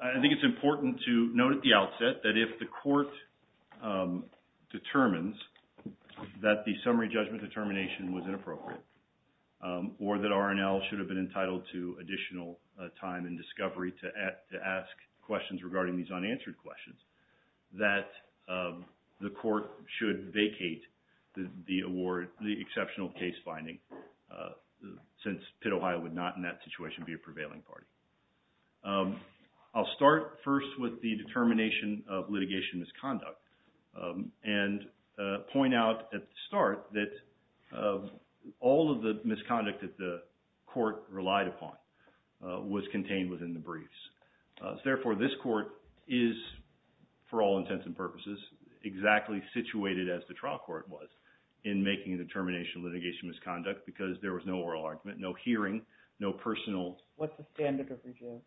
I think it's important to note at the outset that if the court determines that the summary judgment determination was inappropriate, or that R&L should have been entitled to additional time and discovery to ask questions regarding these unanswered questions, that the court should vacate the award, the exceptional case finding, since PITT Ohio would not in that I'll start first with the determination of litigation misconduct and point out at the start that all of the misconduct that the court relied upon was contained within the briefs. Therefore, this court is, for all intents and purposes, exactly situated as the trial court was in making a determination of litigation misconduct because there was no oral argument, no hearing, no personal What's the standard of review?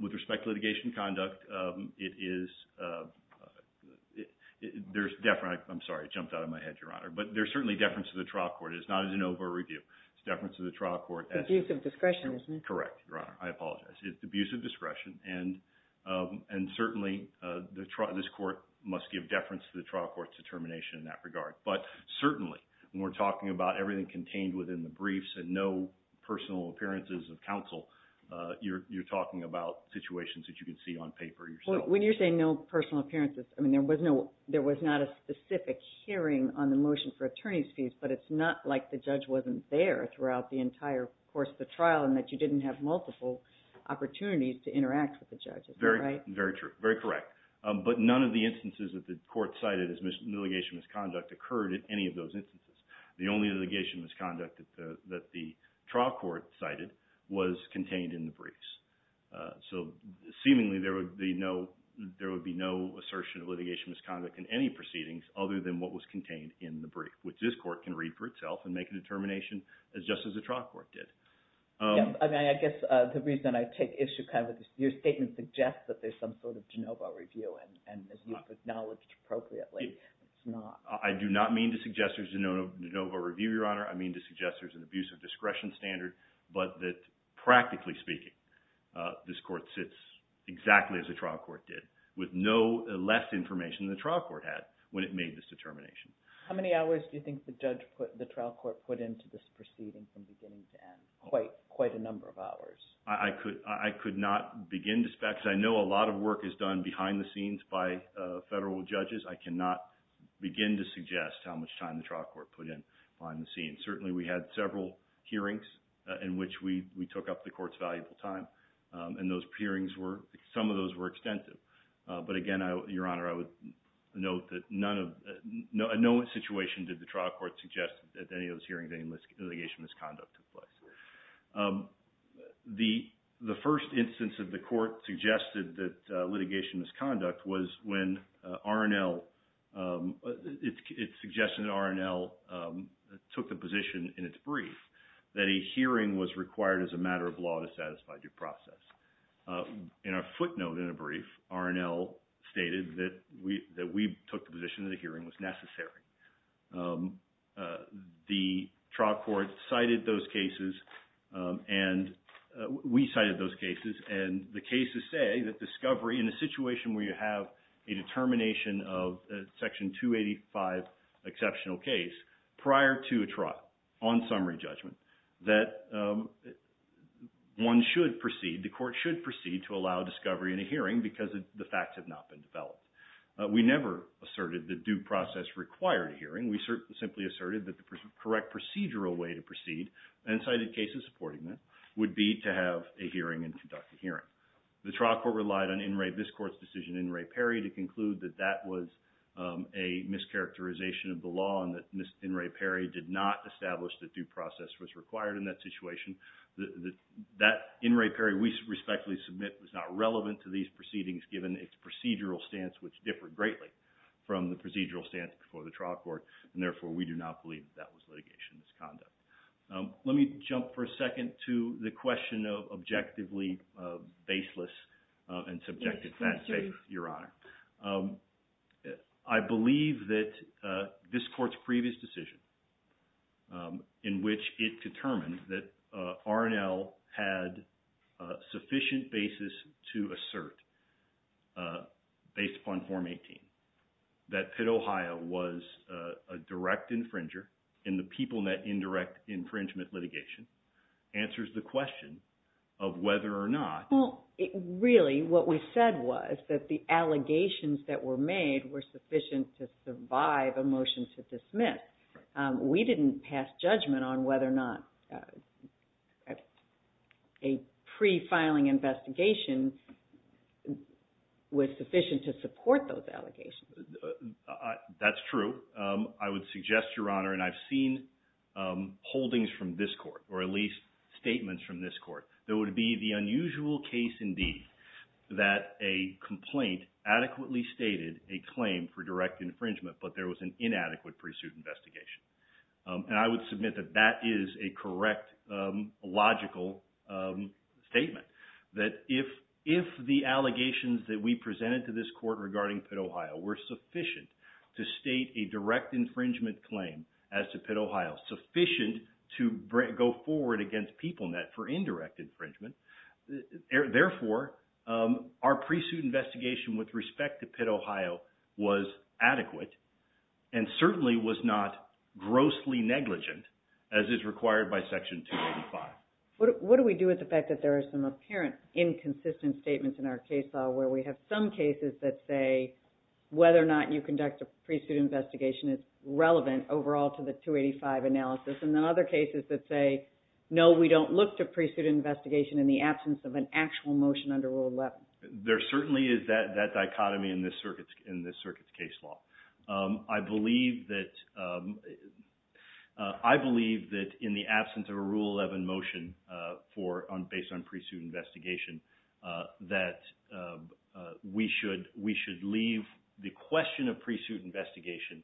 With respect to litigation conduct, it is, there's definitely, I'm sorry, it jumped out of my head, Your Honor, but there's certainly deference to the trial court. It is not an over review. It's deference to the trial court It's abuse of discretion, isn't it? Correct, Your Honor. I apologize. It's abuse of discretion, and certainly, this court must give deference to the trial court's determination in that regard. But certainly, when we're saying contained within the briefs and no personal appearances of counsel, you're talking about situations that you can see on paper yourself. When you're saying no personal appearances, I mean, there was not a specific hearing on the motion for attorney's fees, but it's not like the judge wasn't there throughout the entire course of the trial and that you didn't have multiple opportunities to interact with the judge, is that right? Very true. Very correct. But none of the instances that the court cited as litigation misconduct occurred in any of those instances. The only litigation misconduct that the trial court cited was contained in the briefs. So, seemingly, there would be no assertion of litigation misconduct in any proceedings other than what was contained in the brief, which this court can read for itself and make a determination just as the trial court did. I mean, I guess the reason I take issue kind of with this, your statement suggests that there's some sort of de novo review, and as you've acknowledged appropriately, it's not. I do not mean to suggest there's a de novo review, your honor. I mean to suggest there's an abuse of discretion standard, but that, practically speaking, this court sits exactly as the trial court did, with no less information than the trial court had when it made this determination. How many hours do you think the trial court put into this proceeding from beginning to end? Quite a number of hours. I could not begin to spec, because I know a lot of work is done behind the scenes by the trial court, to begin to suggest how much time the trial court put in behind the scenes. Certainly, we had several hearings in which we took up the court's valuable time, and those hearings were, some of those were extensive. But again, your honor, I would note that none of, no situation did the trial court suggest that any of those hearings, any litigation misconduct took place. The first instance that the court suggested that litigation misconduct was when R&L, it suggested that R&L took the position in its brief that a hearing was required as a matter of law to satisfy due process. In a footnote in a brief, R&L stated that we took the position that a hearing was necessary. The trial court cited those cases, and we cited those cases, and the cases say that discovery in a situation where you have a determination of a Section 285 exceptional case prior to a trial on summary judgment, that one should proceed, the court should proceed to allow discovery in a hearing because the facts have not been developed. We never asserted that due process required a hearing. We simply asserted that the correct procedural way to proceed, and cited cases supporting that, would be to have a hearing and conduct a hearing. The trial court relied on In Re, this court's decision, In Re, Perry to conclude that that was a mischaracterization of the law and that In Re, Perry did not establish that due process was required in that situation. That In Re, Perry we respectfully submit was not relevant to these proceedings given its procedural stance, which differed greatly from the procedural stance before the trial court, and therefore we do not believe that was litigation as conduct. Let me jump for a second to the question of objectively baseless and subjective fact-based, Your Honor. I believe that this court's previous decision in which it determined that R&L had a sufficient basis to assert, based upon Form 18, that Pitt, Ohio was a direct infringer in the PeopleNet indirect infringement litigation, answers the question of whether or not... Well, really what we said was that the allegations that were made were sufficient to survive a motion to dismiss. We didn't pass judgment on whether or not a person who had committed pre-filing investigations was sufficient to support those allegations. That's true. I would suggest, Your Honor, and I've seen holdings from this court, or at least statements from this court, that it would be the unusual case indeed that a complaint adequately stated a claim for direct infringement, but there was an inadequate pre-suit investigation. And I would submit that that is a correct, logical statement. That if the allegations that we presented to this court regarding Pitt, Ohio were sufficient to state a direct infringement claim as to Pitt, Ohio, sufficient to go forward against PeopleNet for indirect infringement, therefore our pre-suit investigation with respect to Pitt, Ohio, certainly was not grossly negligent, as is required by Section 285. What do we do with the fact that there are some apparent inconsistent statements in our case law where we have some cases that say whether or not you conduct a pre-suit investigation is relevant overall to the 285 analysis, and then other cases that say, no, we don't look to pre-suit investigation in the absence of an actual motion under Rule 11? There certainly is that dichotomy in this circuit's case law. I believe that in the absence of a Rule 11 motion based on pre-suit investigation that we should leave the question of pre-suit investigation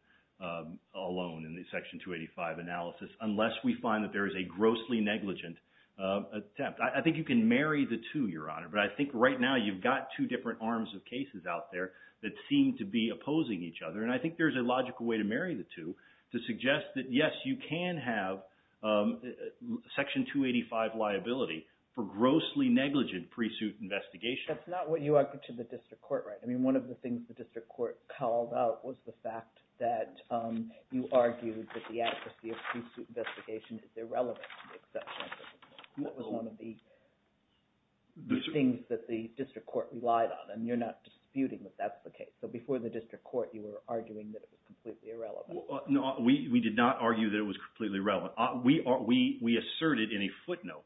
alone in the Section 285 analysis unless we find that there is a grossly negligent attempt. I think you can marry the two, Your Honor, but I think right now you've got two different arms of cases out there that seem to be opposing each other, and I think there's a logical way to marry the two to suggest that, yes, you can have Section 285 liability for grossly negligent pre-suit investigation. That's not what you argued to the District Court, right? I mean, one of the things the District Court called out was the fact that you argued that the adequacy of pre-suit investigation is irrelevant to the exception of pre-suit investigation. That was one of the things that the District Court relied on, and you're not disputing that that's the case. So before the District Court you were arguing that it was completely irrelevant. No, we did not argue that it was completely irrelevant. We asserted in a footnote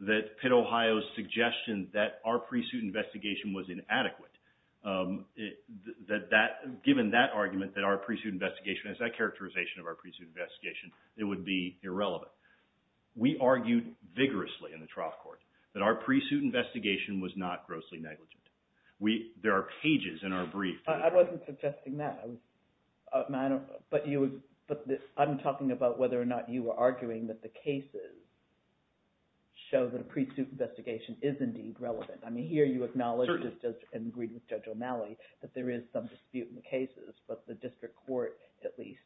that Pitt, Ohio's suggestion that our pre-suit investigation was inadequate. Given that argument that our pre-suit investigation has that characterization of our pre-suit investigation, it would be irrelevant. We argued vigorously in the trial court that our pre-suit investigation was not grossly negligent. There are pages in our brief that are... I wasn't suggesting that. I'm talking about whether or not you were arguing that the cases show that a pre-suit investigation is indeed relevant. I mean, here you acknowledge and agreed with Judge O'Malley that there is some dispute in the cases, but the District Court at least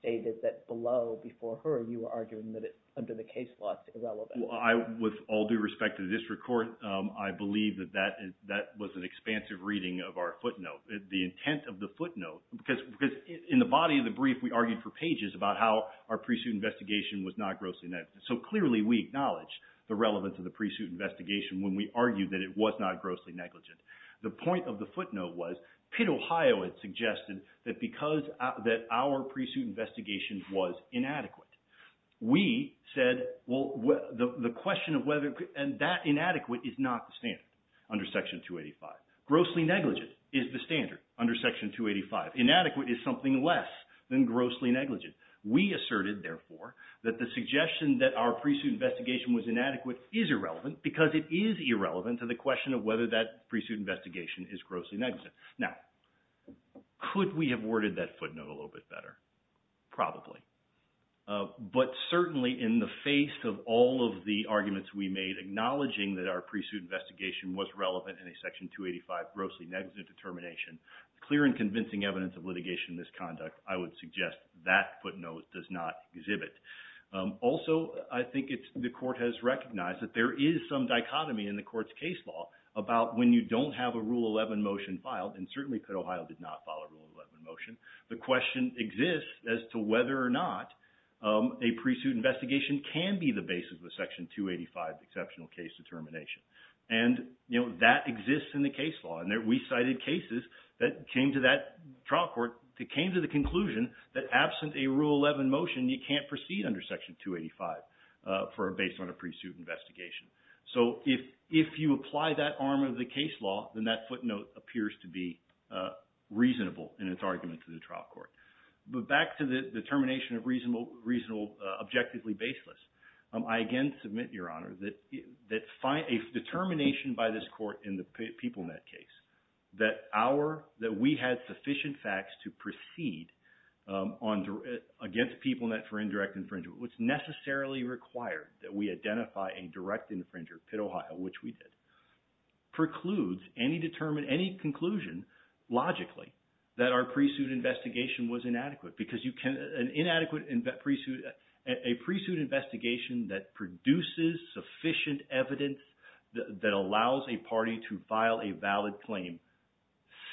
stated that below, before her, you were arguing that it, under the case law, is irrelevant. Well, with all due respect to the District Court, I believe that that was an expansive reading of our footnote. The intent of the footnote, because in the body of the brief we argued for pages about how our pre-suit investigation was not grossly negligent. So clearly we acknowledge the relevance of the pre-suit investigation when we argue that it was not grossly negligent. The point of the footnote was, Pitt, Ohio had suggested that because that our pre-suit investigation was inadequate. We said, well, the question of whether... and that inadequate is not the standard under Section 285. Grossly negligent is the standard under Section 285. Inadequate is something less than grossly negligent. We asserted, therefore, that the suggestion that our pre-suit investigation was inadequate is irrelevant because it is irrelevant to the question of whether that pre-suit investigation is grossly negligent. Now, could we have worded that footnote a little bit better? Probably. But certainly in the face of all of the arguments we made acknowledging that our pre-suit investigation was relevant in a Section 285 grossly negligent determination, clear and convincing evidence of litigation in this conduct, I would suggest that footnote does not exhibit. Also, I think the Court has recognized that there is some dichotomy in the Court's case law about when you don't have a Rule 11 motion filed, and certainly Pitt, Ohio did not file a Rule 11 motion. The question exists as to whether or not a pre-suit investigation can be the basis of a Section 285 exceptional case determination. And that exists in the case law. We cited cases that came to that trial court that came to the conclusion that absent a Rule 11 motion, you can't proceed under Section 285 based on a pre-suit investigation. So if you apply that arm of the case law, then that footnote appears to be reasonable in its argument to the trial court. But back to the determination of reasonable, objectively baseless, I again submit, Your Honor, that a determination by this Court in the PeopleNet case that we had sufficient facts to proceed against PeopleNet for indirect infringement, which necessarily required that we identify a direct infringer, Pitt, Ohio, which we did, precludes any conclusion logically that our pre-suit investigation was inadequate. Because an inadequate pre-suit, a pre-suit investigation that produces sufficient evidence that allows a party to file a valid claim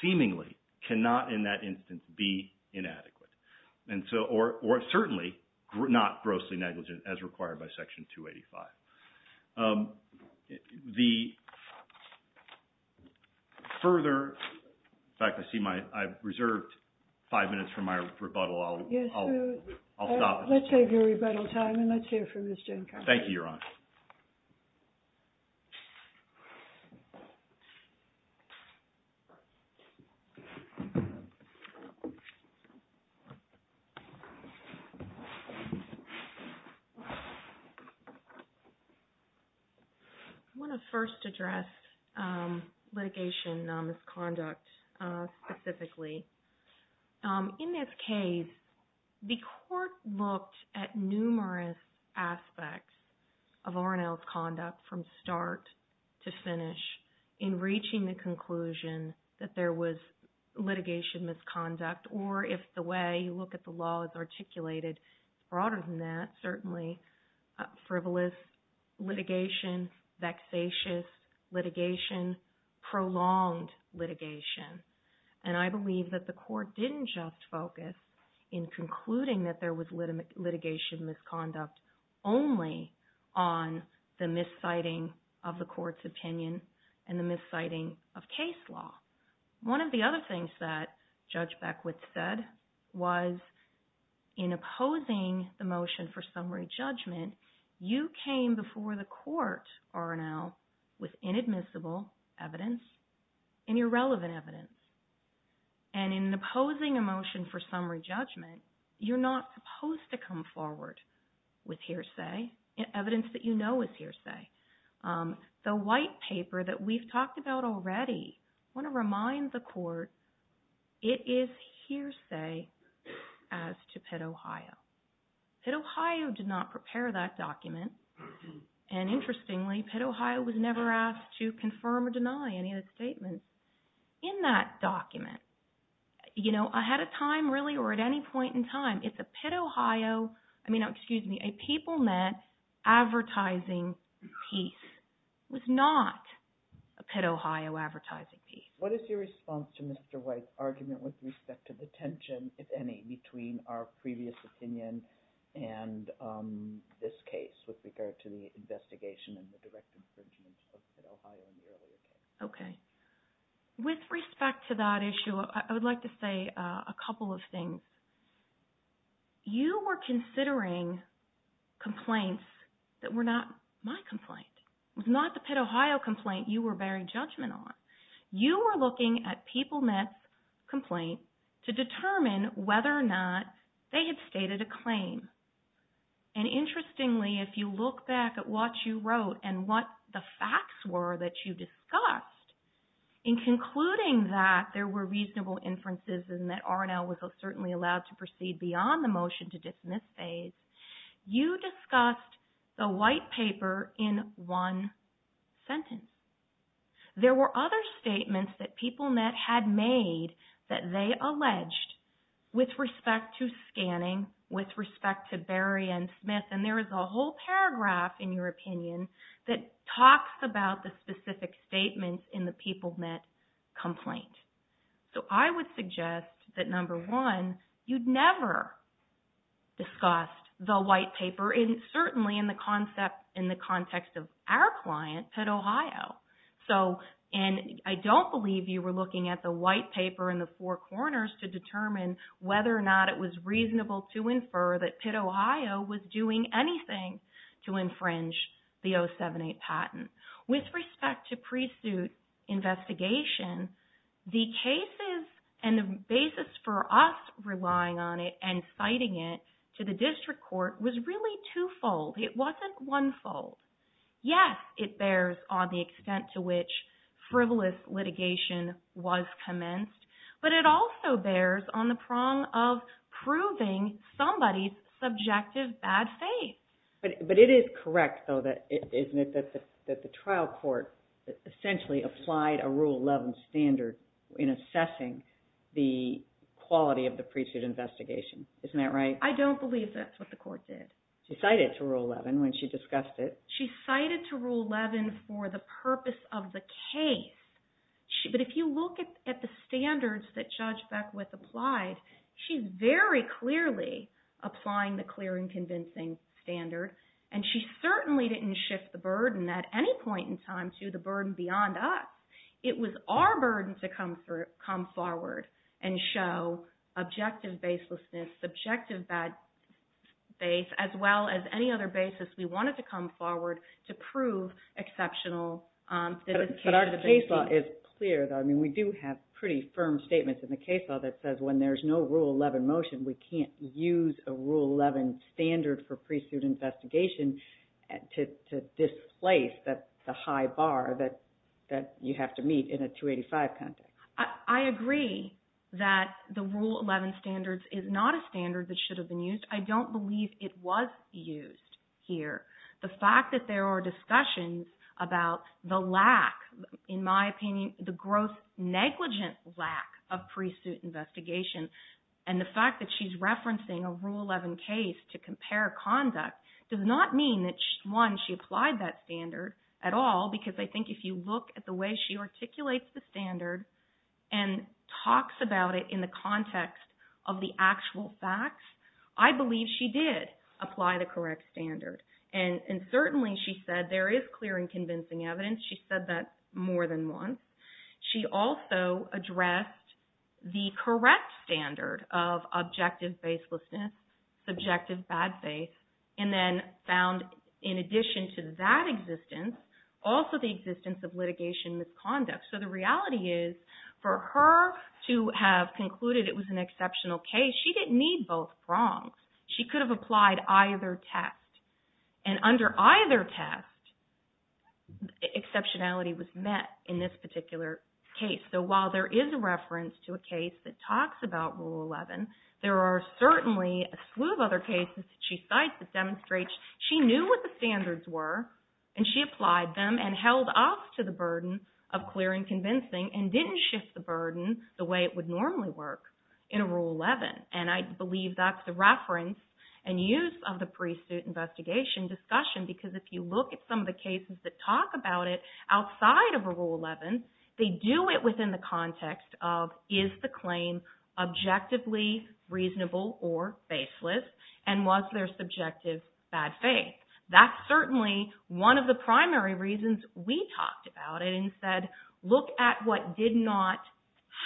seemingly cannot in that instance be inadequate. And so, or certainly not grossly negligent as required by Section 285. The further, in fact, I see my, I've reserved five minutes for my rebuttal. I'll stop. Yes, so let's take your rebuttal time and let's hear from Ms. Jankowski. Thank you, Your Honor. I want to first address litigation misconduct specifically. In this case, the Court looked at numerous aspects of R&L's conduct from start to finish in reaching the conclusion that there was litigation misconduct. Or if the way you look at the law is articulated broader than that, certainly frivolous litigation, vexatious litigation, prolonged litigation. And I believe that the Court didn't just focus in concluding that there was litigation misconduct only on the misciting of the Court's opinion and the misciting of case law. One of the other things that Judge Beckwith said was in opposing the motion for summary judgment, you came before the Court, R&L, with inadmissible evidence and irrelevant evidence. And in opposing a motion for summary judgment, you're not supposed to come forward with hearsay, evidence that you know is hearsay. The white paper that we've talked about already, I want to remind the Court, it is hearsay as to Pitt, Ohio. Pitt, Ohio did not prepare that document. And interestingly, Pitt, Ohio was never asked to confirm or deny any of the statements in that document. You know, ahead of time, really, or at any point in time, if a Pitt, Ohio, I mean, excuse me, a PeopleNet advertising piece was not a Pitt, Ohio advertising piece. What is your response to Mr. White's argument with respect to the tension, if any, between our previous opinion and this case with regard to the investigation and the direct infringement of Pitt, Ohio in the earlier case? Okay. With respect to that issue, I would like to say a couple of things. You were considering complaints that were not my complaint, was not the Pitt, Ohio complaint you were bearing judgment on. You were looking at PeopleNet's complaint to determine whether or not they had stated a claim. And interestingly, if you look back at what you wrote and what the facts were that you discussed, in concluding that there were reasonable inferences and that R&L was certainly allowed to proceed beyond the motion to dismiss phase, you discussed the white paper in one sentence. There were other statements that PeopleNet had made that they alleged with respect to scanning, with respect to Berry and Smith, and there is a whole paragraph in your opinion that talks about the specific statements in the PeopleNet complaint. So I would suggest that, number one, you'd never discussed the white paper, certainly in the context of our client, Pitt, Ohio. And I don't believe you were looking at the white paper in the four corners to determine whether or not it was reasonable to infer that Pitt, Ohio was doing anything to infringe the 078 patent. With respect to pre-suit investigation, the cases and the basis for us relying on it and citing it to the district court was really two-fold. It wasn't one-fold. Yes, it bears on the extent to which frivolous litigation was commenced, but it also bears on the prong of proving somebody's subjective bad faith. But it is correct, though, isn't it, that the trial court essentially applied a Rule 11 standard in assessing the quality of the pre-suit investigation. Isn't that right? I don't believe that's what the court did. She cited it to Rule 11 when she discussed it. She cited it to Rule 11 for the purpose of the case. But if you look at the standards that Judge Beckwith applied, she's very clearly applying the clear and convincing standard, and she certainly didn't shift the burden at any point in time to the burden beyond us. It was our burden to come forward and show objective baselessness, subjective bad faith, as well as any other basis we wanted to come forward to prove exceptional. But our case law is clear, though. I mean, we do have pretty firm statements in the case law that says when there's no Rule 11 motion, we can't use a Rule 11 standard for pre-suit investigation to displace the high bar that you have to meet in a 285 context. I agree that the Rule 11 standard is not a standard that should have been used. I don't believe it was used here. The fact that there are discussions about the lack, in my opinion, the gross negligent lack of pre-suit investigation, and the fact that she's referencing a Rule 11 case to compare conduct, does not mean that, one, she applied that standard at all, because I think if you look at the way she articulates the standard and talks about it in the context of the actual facts, I believe she did apply the correct standard. And certainly she said there is clear and convincing evidence. She said that more than once. She also addressed the correct standard of objective baselessness, subjective bad faith, and then found, in addition to that existence, also the existence of litigation misconduct. So the reality is, for her to have concluded it was an exceptional case, she didn't need both prongs. She could have applied either test. And under either test, exceptionality was met in this particular case. So while there is a reference to a case that talks about Rule 11, there are certainly a slew of other cases that she cites that demonstrate she knew what the standards were and she applied them and held off to the burden of clear and convincing and didn't shift the burden the way it would normally work in a Rule 11. And I believe that's the reference and use of the pre-suit investigation discussion, because if you look at some of the cases that talk about it outside of a Rule 11, they do it within the context of, is the claim objectively reasonable or baseless, and was there subjective bad faith? That's certainly one of the primary reasons we talked about it and said, look at what did not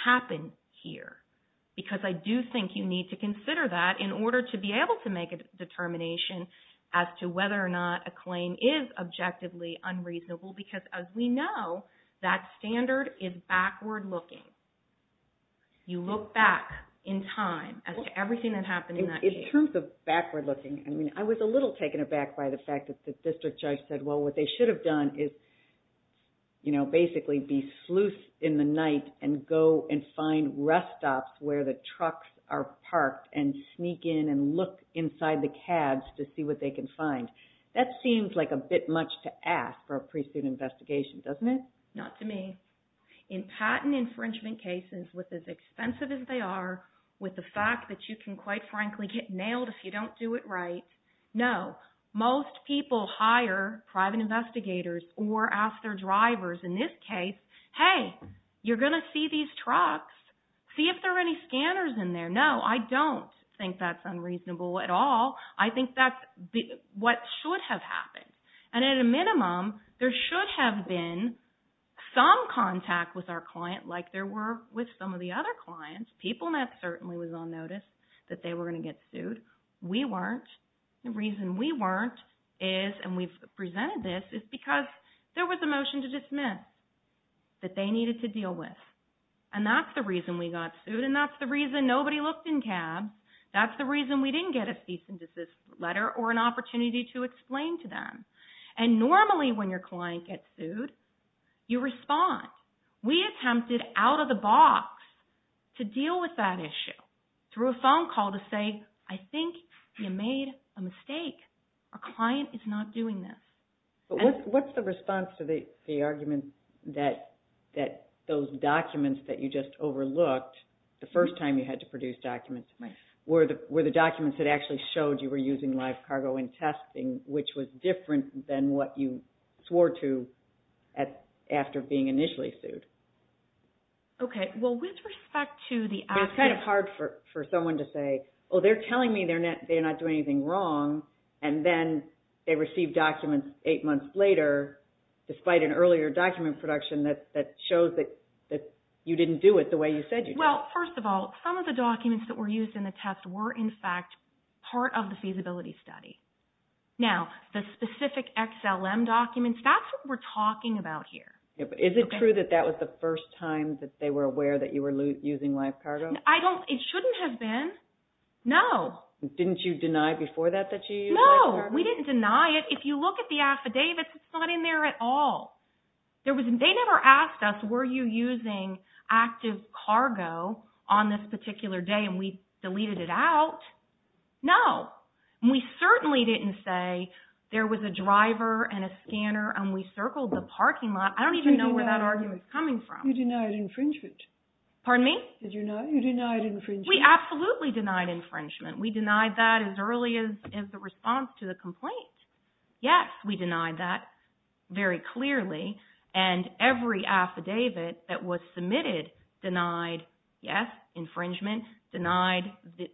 happen here, because I do think you need to consider that in order to be able to make a determination as to whether or not a claim is objectively unreasonable, because as we know, that standard is backward looking. You look back in time as to everything that happened in that case. In terms of backward looking, I was a little taken aback by the fact that the district judge said, well, what they should have done is basically be sleuth in the night and go and find rest stops where the trucks are parked and sneak in and look inside the cabs to see what they can find. That seems like a bit much to ask for a pre-suit investigation, doesn't it? Not to me. In patent infringement cases, with as expensive as they are, with the fact that you can, quite frankly, get nailed if you don't do it right, no. Most people hire private investigators or ask their drivers, in this case, hey, you're going to see these trucks. See if there are any scanners in there. No, I don't think that's unreasonable at all. I think that's what should have happened. And at a minimum, there should have been some contact with our client like there were with some of the other clients. PeopleNet certainly was on notice that they were going to get sued. We weren't. The reason we weren't is, and we've presented this, is because there was a motion to dismiss that they needed to deal with. And that's the reason we got sued. And that's the reason nobody looked in cabs. That's the reason we didn't get a cease and desist letter or an opportunity to explain to them. And normally when your client gets sued, you respond. We attempted out of the box to deal with that issue through a phone call to say, I think you made a mistake. Our client is not doing this. But what's the response to the argument that those documents that you just overlooked, the first time you had to produce documents, were the documents that actually showed you were using live cargo in testing, which was different than what you swore to after being initially sued? Okay. Well, with respect to the actual... But it's kind of hard for someone to say, oh, they're telling me they're not doing anything wrong. And then they receive documents eight months later, despite an earlier document production that shows that you didn't do it the way you said you did. Well, first of all, some of the documents that were used in the test were, in fact, part of the feasibility study. Now, the specific XLM documents, that's what we're talking about here. Is it true that that was the first time that they were aware that you were using live cargo? I don't... It shouldn't have been. No. Didn't you deny before that, that you used live cargo? No. We didn't deny it. If you look at the affidavits, it's not in there at all. They never asked us, were you using active cargo on this particular day and we deleted it out? No. We certainly didn't say there was a driver and a scanner and we circled the parking lot. I don't even know where that argument's coming from. You denied infringement. Pardon me? You denied infringement. We absolutely denied infringement. We denied that as early as the response to the complaint. Yes, we denied that very clearly. And every affidavit that was submitted denied, yes, infringement, denied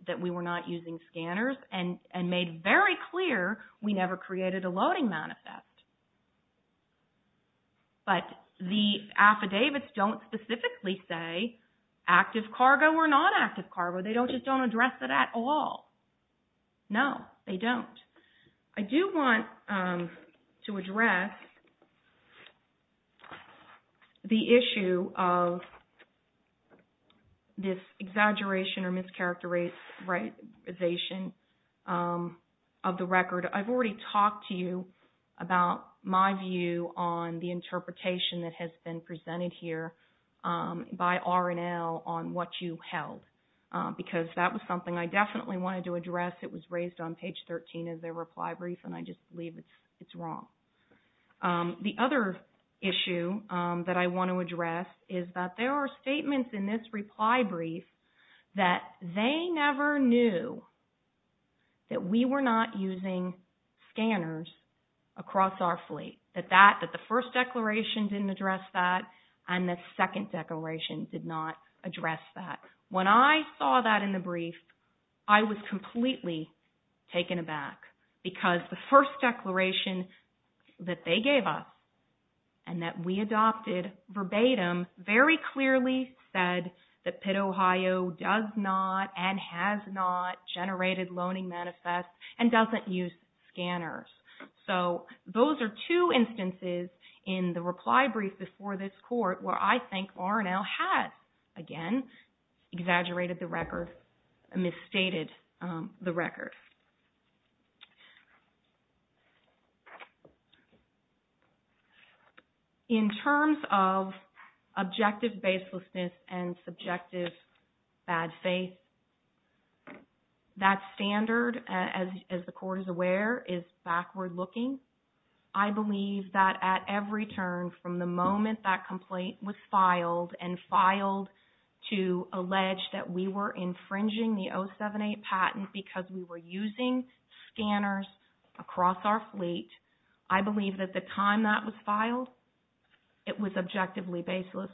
that we were not using scanners, and made very clear we never created a loading manifest. But the affidavits don't specifically say active cargo or non-active cargo. They just don't address it at all. No, they don't. I do want to address the issue of this exaggeration or mischaracterization of the record. I've already talked to you about my view on the interpretation that has been presented here by R&L on what you held, because that was something I definitely wanted to address. It was raised on page 13 of their reply brief, and I just believe it's wrong. The other issue that I want to address is that there are statements in this reply brief that they never knew that we were not using scanners across our fleet, that the first declaration didn't address that, and the second declaration did not address that. When I saw that in the brief, I was completely taken aback, because the first declaration that they gave us, and that we adopted verbatim, very clearly said that Pitt, Ohio did not know, does not, and has not generated loaning manifests and doesn't use scanners. So those are two instances in the reply brief before this Court where I think R&L has, again, exaggerated the record, misstated the record. In terms of objective baselessness and subjective bad faith, that standard, as the Court is aware, is backward looking. I believe that at every turn from the moment that complaint was filed and filed to allege that we were infringing the 078 patent because we were using scanners across our fleet, I believe that the time that was filed, it was objectively baseless.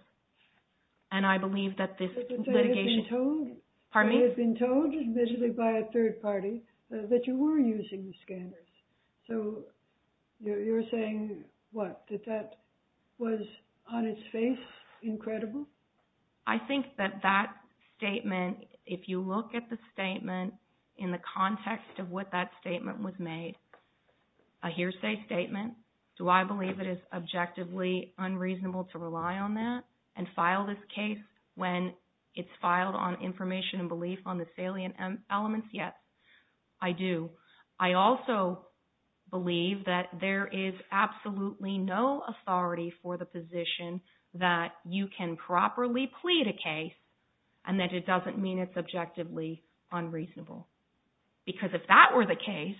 And I believe that this litigation... But they had been told... Pardon me? They had been told, admittedly by a third party, that you were using the scanners. So you're saying, what, that that was on its face incredible? I think that that statement, if you look at the statement in the context of what that statement was made, a hearsay statement, do I believe it is objectively unreasonable to rely on that and file this case when it's filed on information and belief on the salient elements? Yes, I do. I also believe that there is absolutely no authority for the position that you can properly plead a case and that it doesn't mean it's objectively unreasonable. Because if that were the case,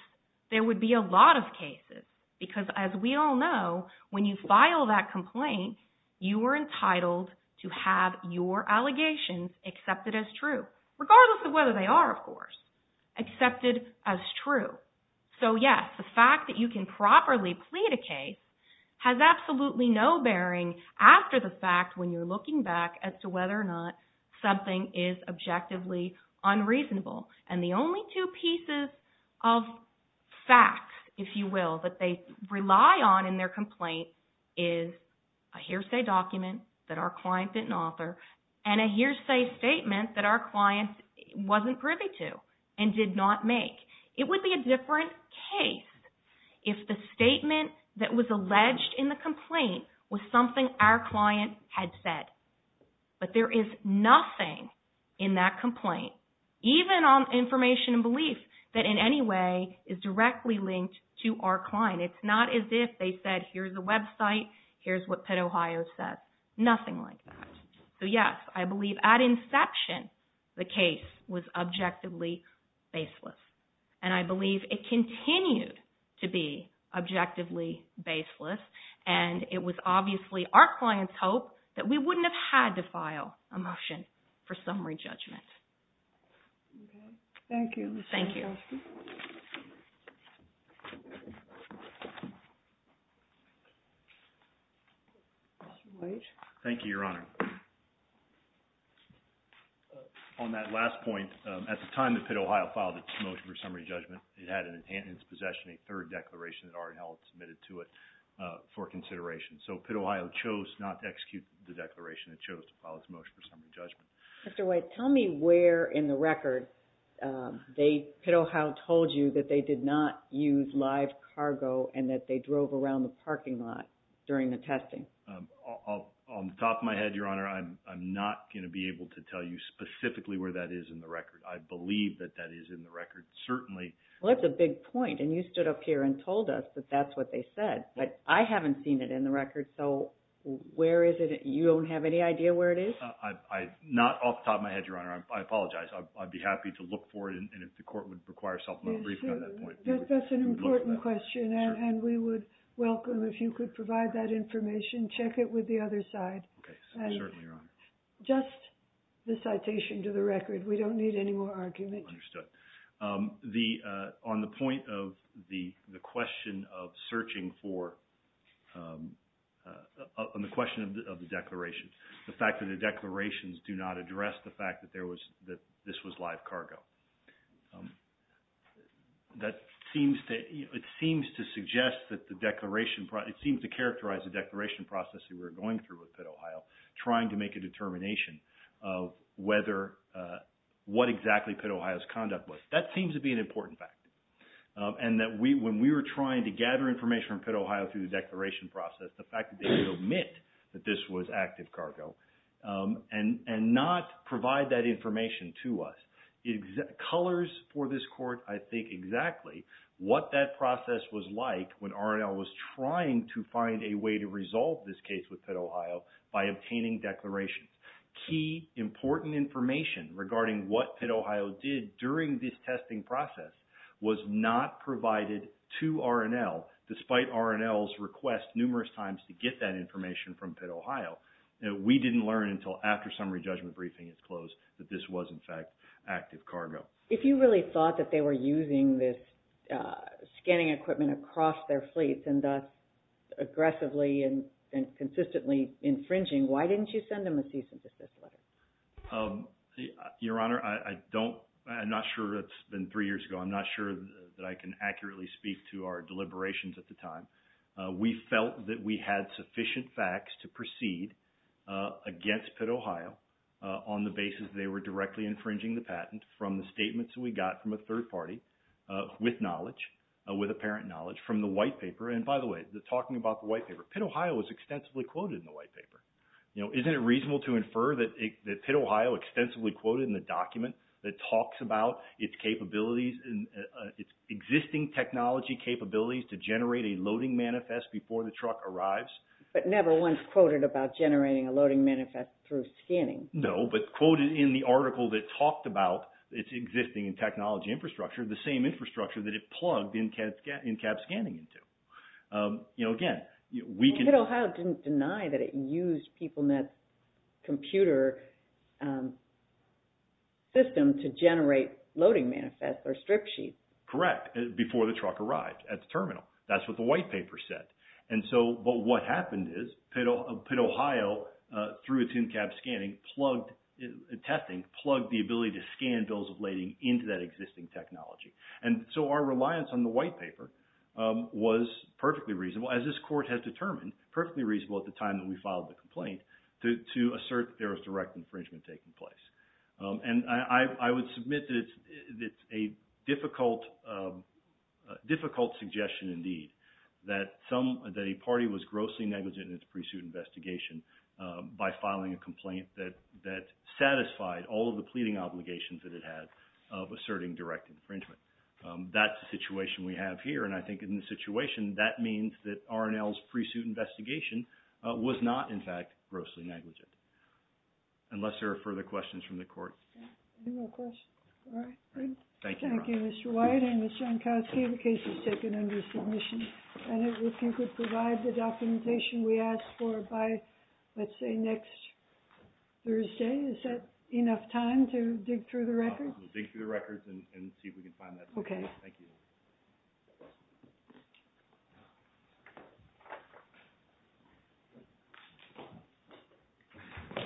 there would be a lot of cases. Because as we all know, when you file that complaint, you are entitled to have your allegations accepted as true, regardless of whether they are, of course, accepted as true. So yes, the fact that you can properly plead a case has absolutely no bearing after the fact when you're looking back as to whether or not something is objectively unreasonable. And the only two pieces of facts, if you will, that they rely on in their complaint is a hearsay document that our client didn't author, and a hearsay statement that our client wasn't privy to and did not make. It would be a different case if the statement that was alleged in the complaint was something our client had said. But there is nothing in that complaint, even on information and belief, that in any way is directly linked to our client. It's not as if they said, here's the website, here's what Penn, Ohio says. Nothing like that. So yes, I believe at inception, the case was objectively baseless. And I believe it continued to be objectively baseless, and it was obviously our client's hope that we wouldn't have had to file a motion for summary judgment. Okay. Thank you, Ms. Kaczmarowski. Thank you. Mr. White. Thank you, Your Honor. On that last point, at the time that Pitt, Ohio filed its motion for summary judgment, it had in its possession a third declaration that R&L had submitted to it for consideration. So Pitt, Ohio chose not to execute the declaration. It chose to file its motion for summary judgment. Mr. White, tell me where in the record Pitt, Ohio told you that they did not use live cargo and that they drove around the parking lot during the testing. On top of my head, Your Honor, I'm not going to be able to tell you specifically where that is in the record. I believe that that is in the record, certainly. Well, that's a big point. And you stood up here and told us that that's what they said. But I haven't seen it in the record. So where is it? You don't have any idea where it is? Not off the top of my head, Your Honor. I apologize. I'd be happy to look for it, and if the court would require a supplemental briefing on that point, we would look for that. One question, and we would welcome if you could provide that information. Check it with the other side. Certainly, Your Honor. Just the citation to the record. We don't need any more argument. Understood. On the point of the question of searching for – on the question of the declarations, the fact that the declarations do not address the fact that this was live cargo. That seems to – it seems to suggest that the declaration – it seems to characterize the declaration process that we're going through with Pitt, Ohio, trying to make a determination of whether – what exactly Pitt, Ohio's conduct was. That seems to be an important fact. And that when we were trying to gather information from Pitt, Ohio through the declaration process, the fact that they would omit that this was active cargo and not provide that information to us, colors for this court, I think, exactly what that process was like when R&L was trying to find a way to resolve this case with Pitt, Ohio by obtaining declarations. Key, important information regarding what Pitt, Ohio did during this testing process was not provided to R&L, despite R&L's request numerous times to get that information from Pitt, Ohio. We didn't learn until after summary judgment briefing is closed that this was, in fact, active cargo. If you really thought that they were using this scanning equipment across their fleets and thus aggressively and consistently infringing, why didn't you send them a cease and desist letter? Your Honor, I don't – I'm not sure – it's been three years ago. I'm not sure that I can accurately speak to our deliberations at the time. We felt that we had sufficient facts to proceed against Pitt, Ohio on the basis that they were directly infringing the patent from the statements that we got from a third party with knowledge, with apparent knowledge from the white paper. And by the way, talking about the white paper, Pitt, Ohio was extensively quoted in the white paper. You know, isn't it reasonable to infer that Pitt, Ohio extensively quoted in the document that talks about its capabilities – its existing technology capabilities to generate a loading manifest before the truck arrives? But never once quoted about generating a loading manifest through scanning. No, but quoted in the article that talked about its existing technology infrastructure, the same infrastructure that it plugged in-cab scanning into. You know, again, we can – People meant computer system to generate loading manifest or strip sheets. Correct, before the truck arrived at the terminal. That's what the white paper said. And so – but what happened is Pitt, Ohio, through its in-cab scanning, plugged – testing, plugged the ability to scan bills of lading into that existing technology. And so our reliance on the white paper was perfectly reasonable, as this court has determined, perfectly reasonable at the time that we filed the complaint to assert that there was direct infringement taking place. And I would submit that it's a difficult suggestion indeed that some – that a party was grossly negligent in its pre-suit investigation by filing a complaint that satisfied all of the pleading obligations that it had of asserting direct infringement. That's the situation we have here. And I think in this situation, that means that R&L's pre-suit investigation was not, in fact, grossly negligent, unless there are further questions from the court. Any more questions? All right, great. Thank you, Ron. Thank you, Mr. White and Ms. Jankowski. The case is taken under submission. And if you could provide the documentation we asked for by, let's say, next Thursday, is that enough time to dig through the records? We'll dig through the records and see if we can find that. Okay. Thank you.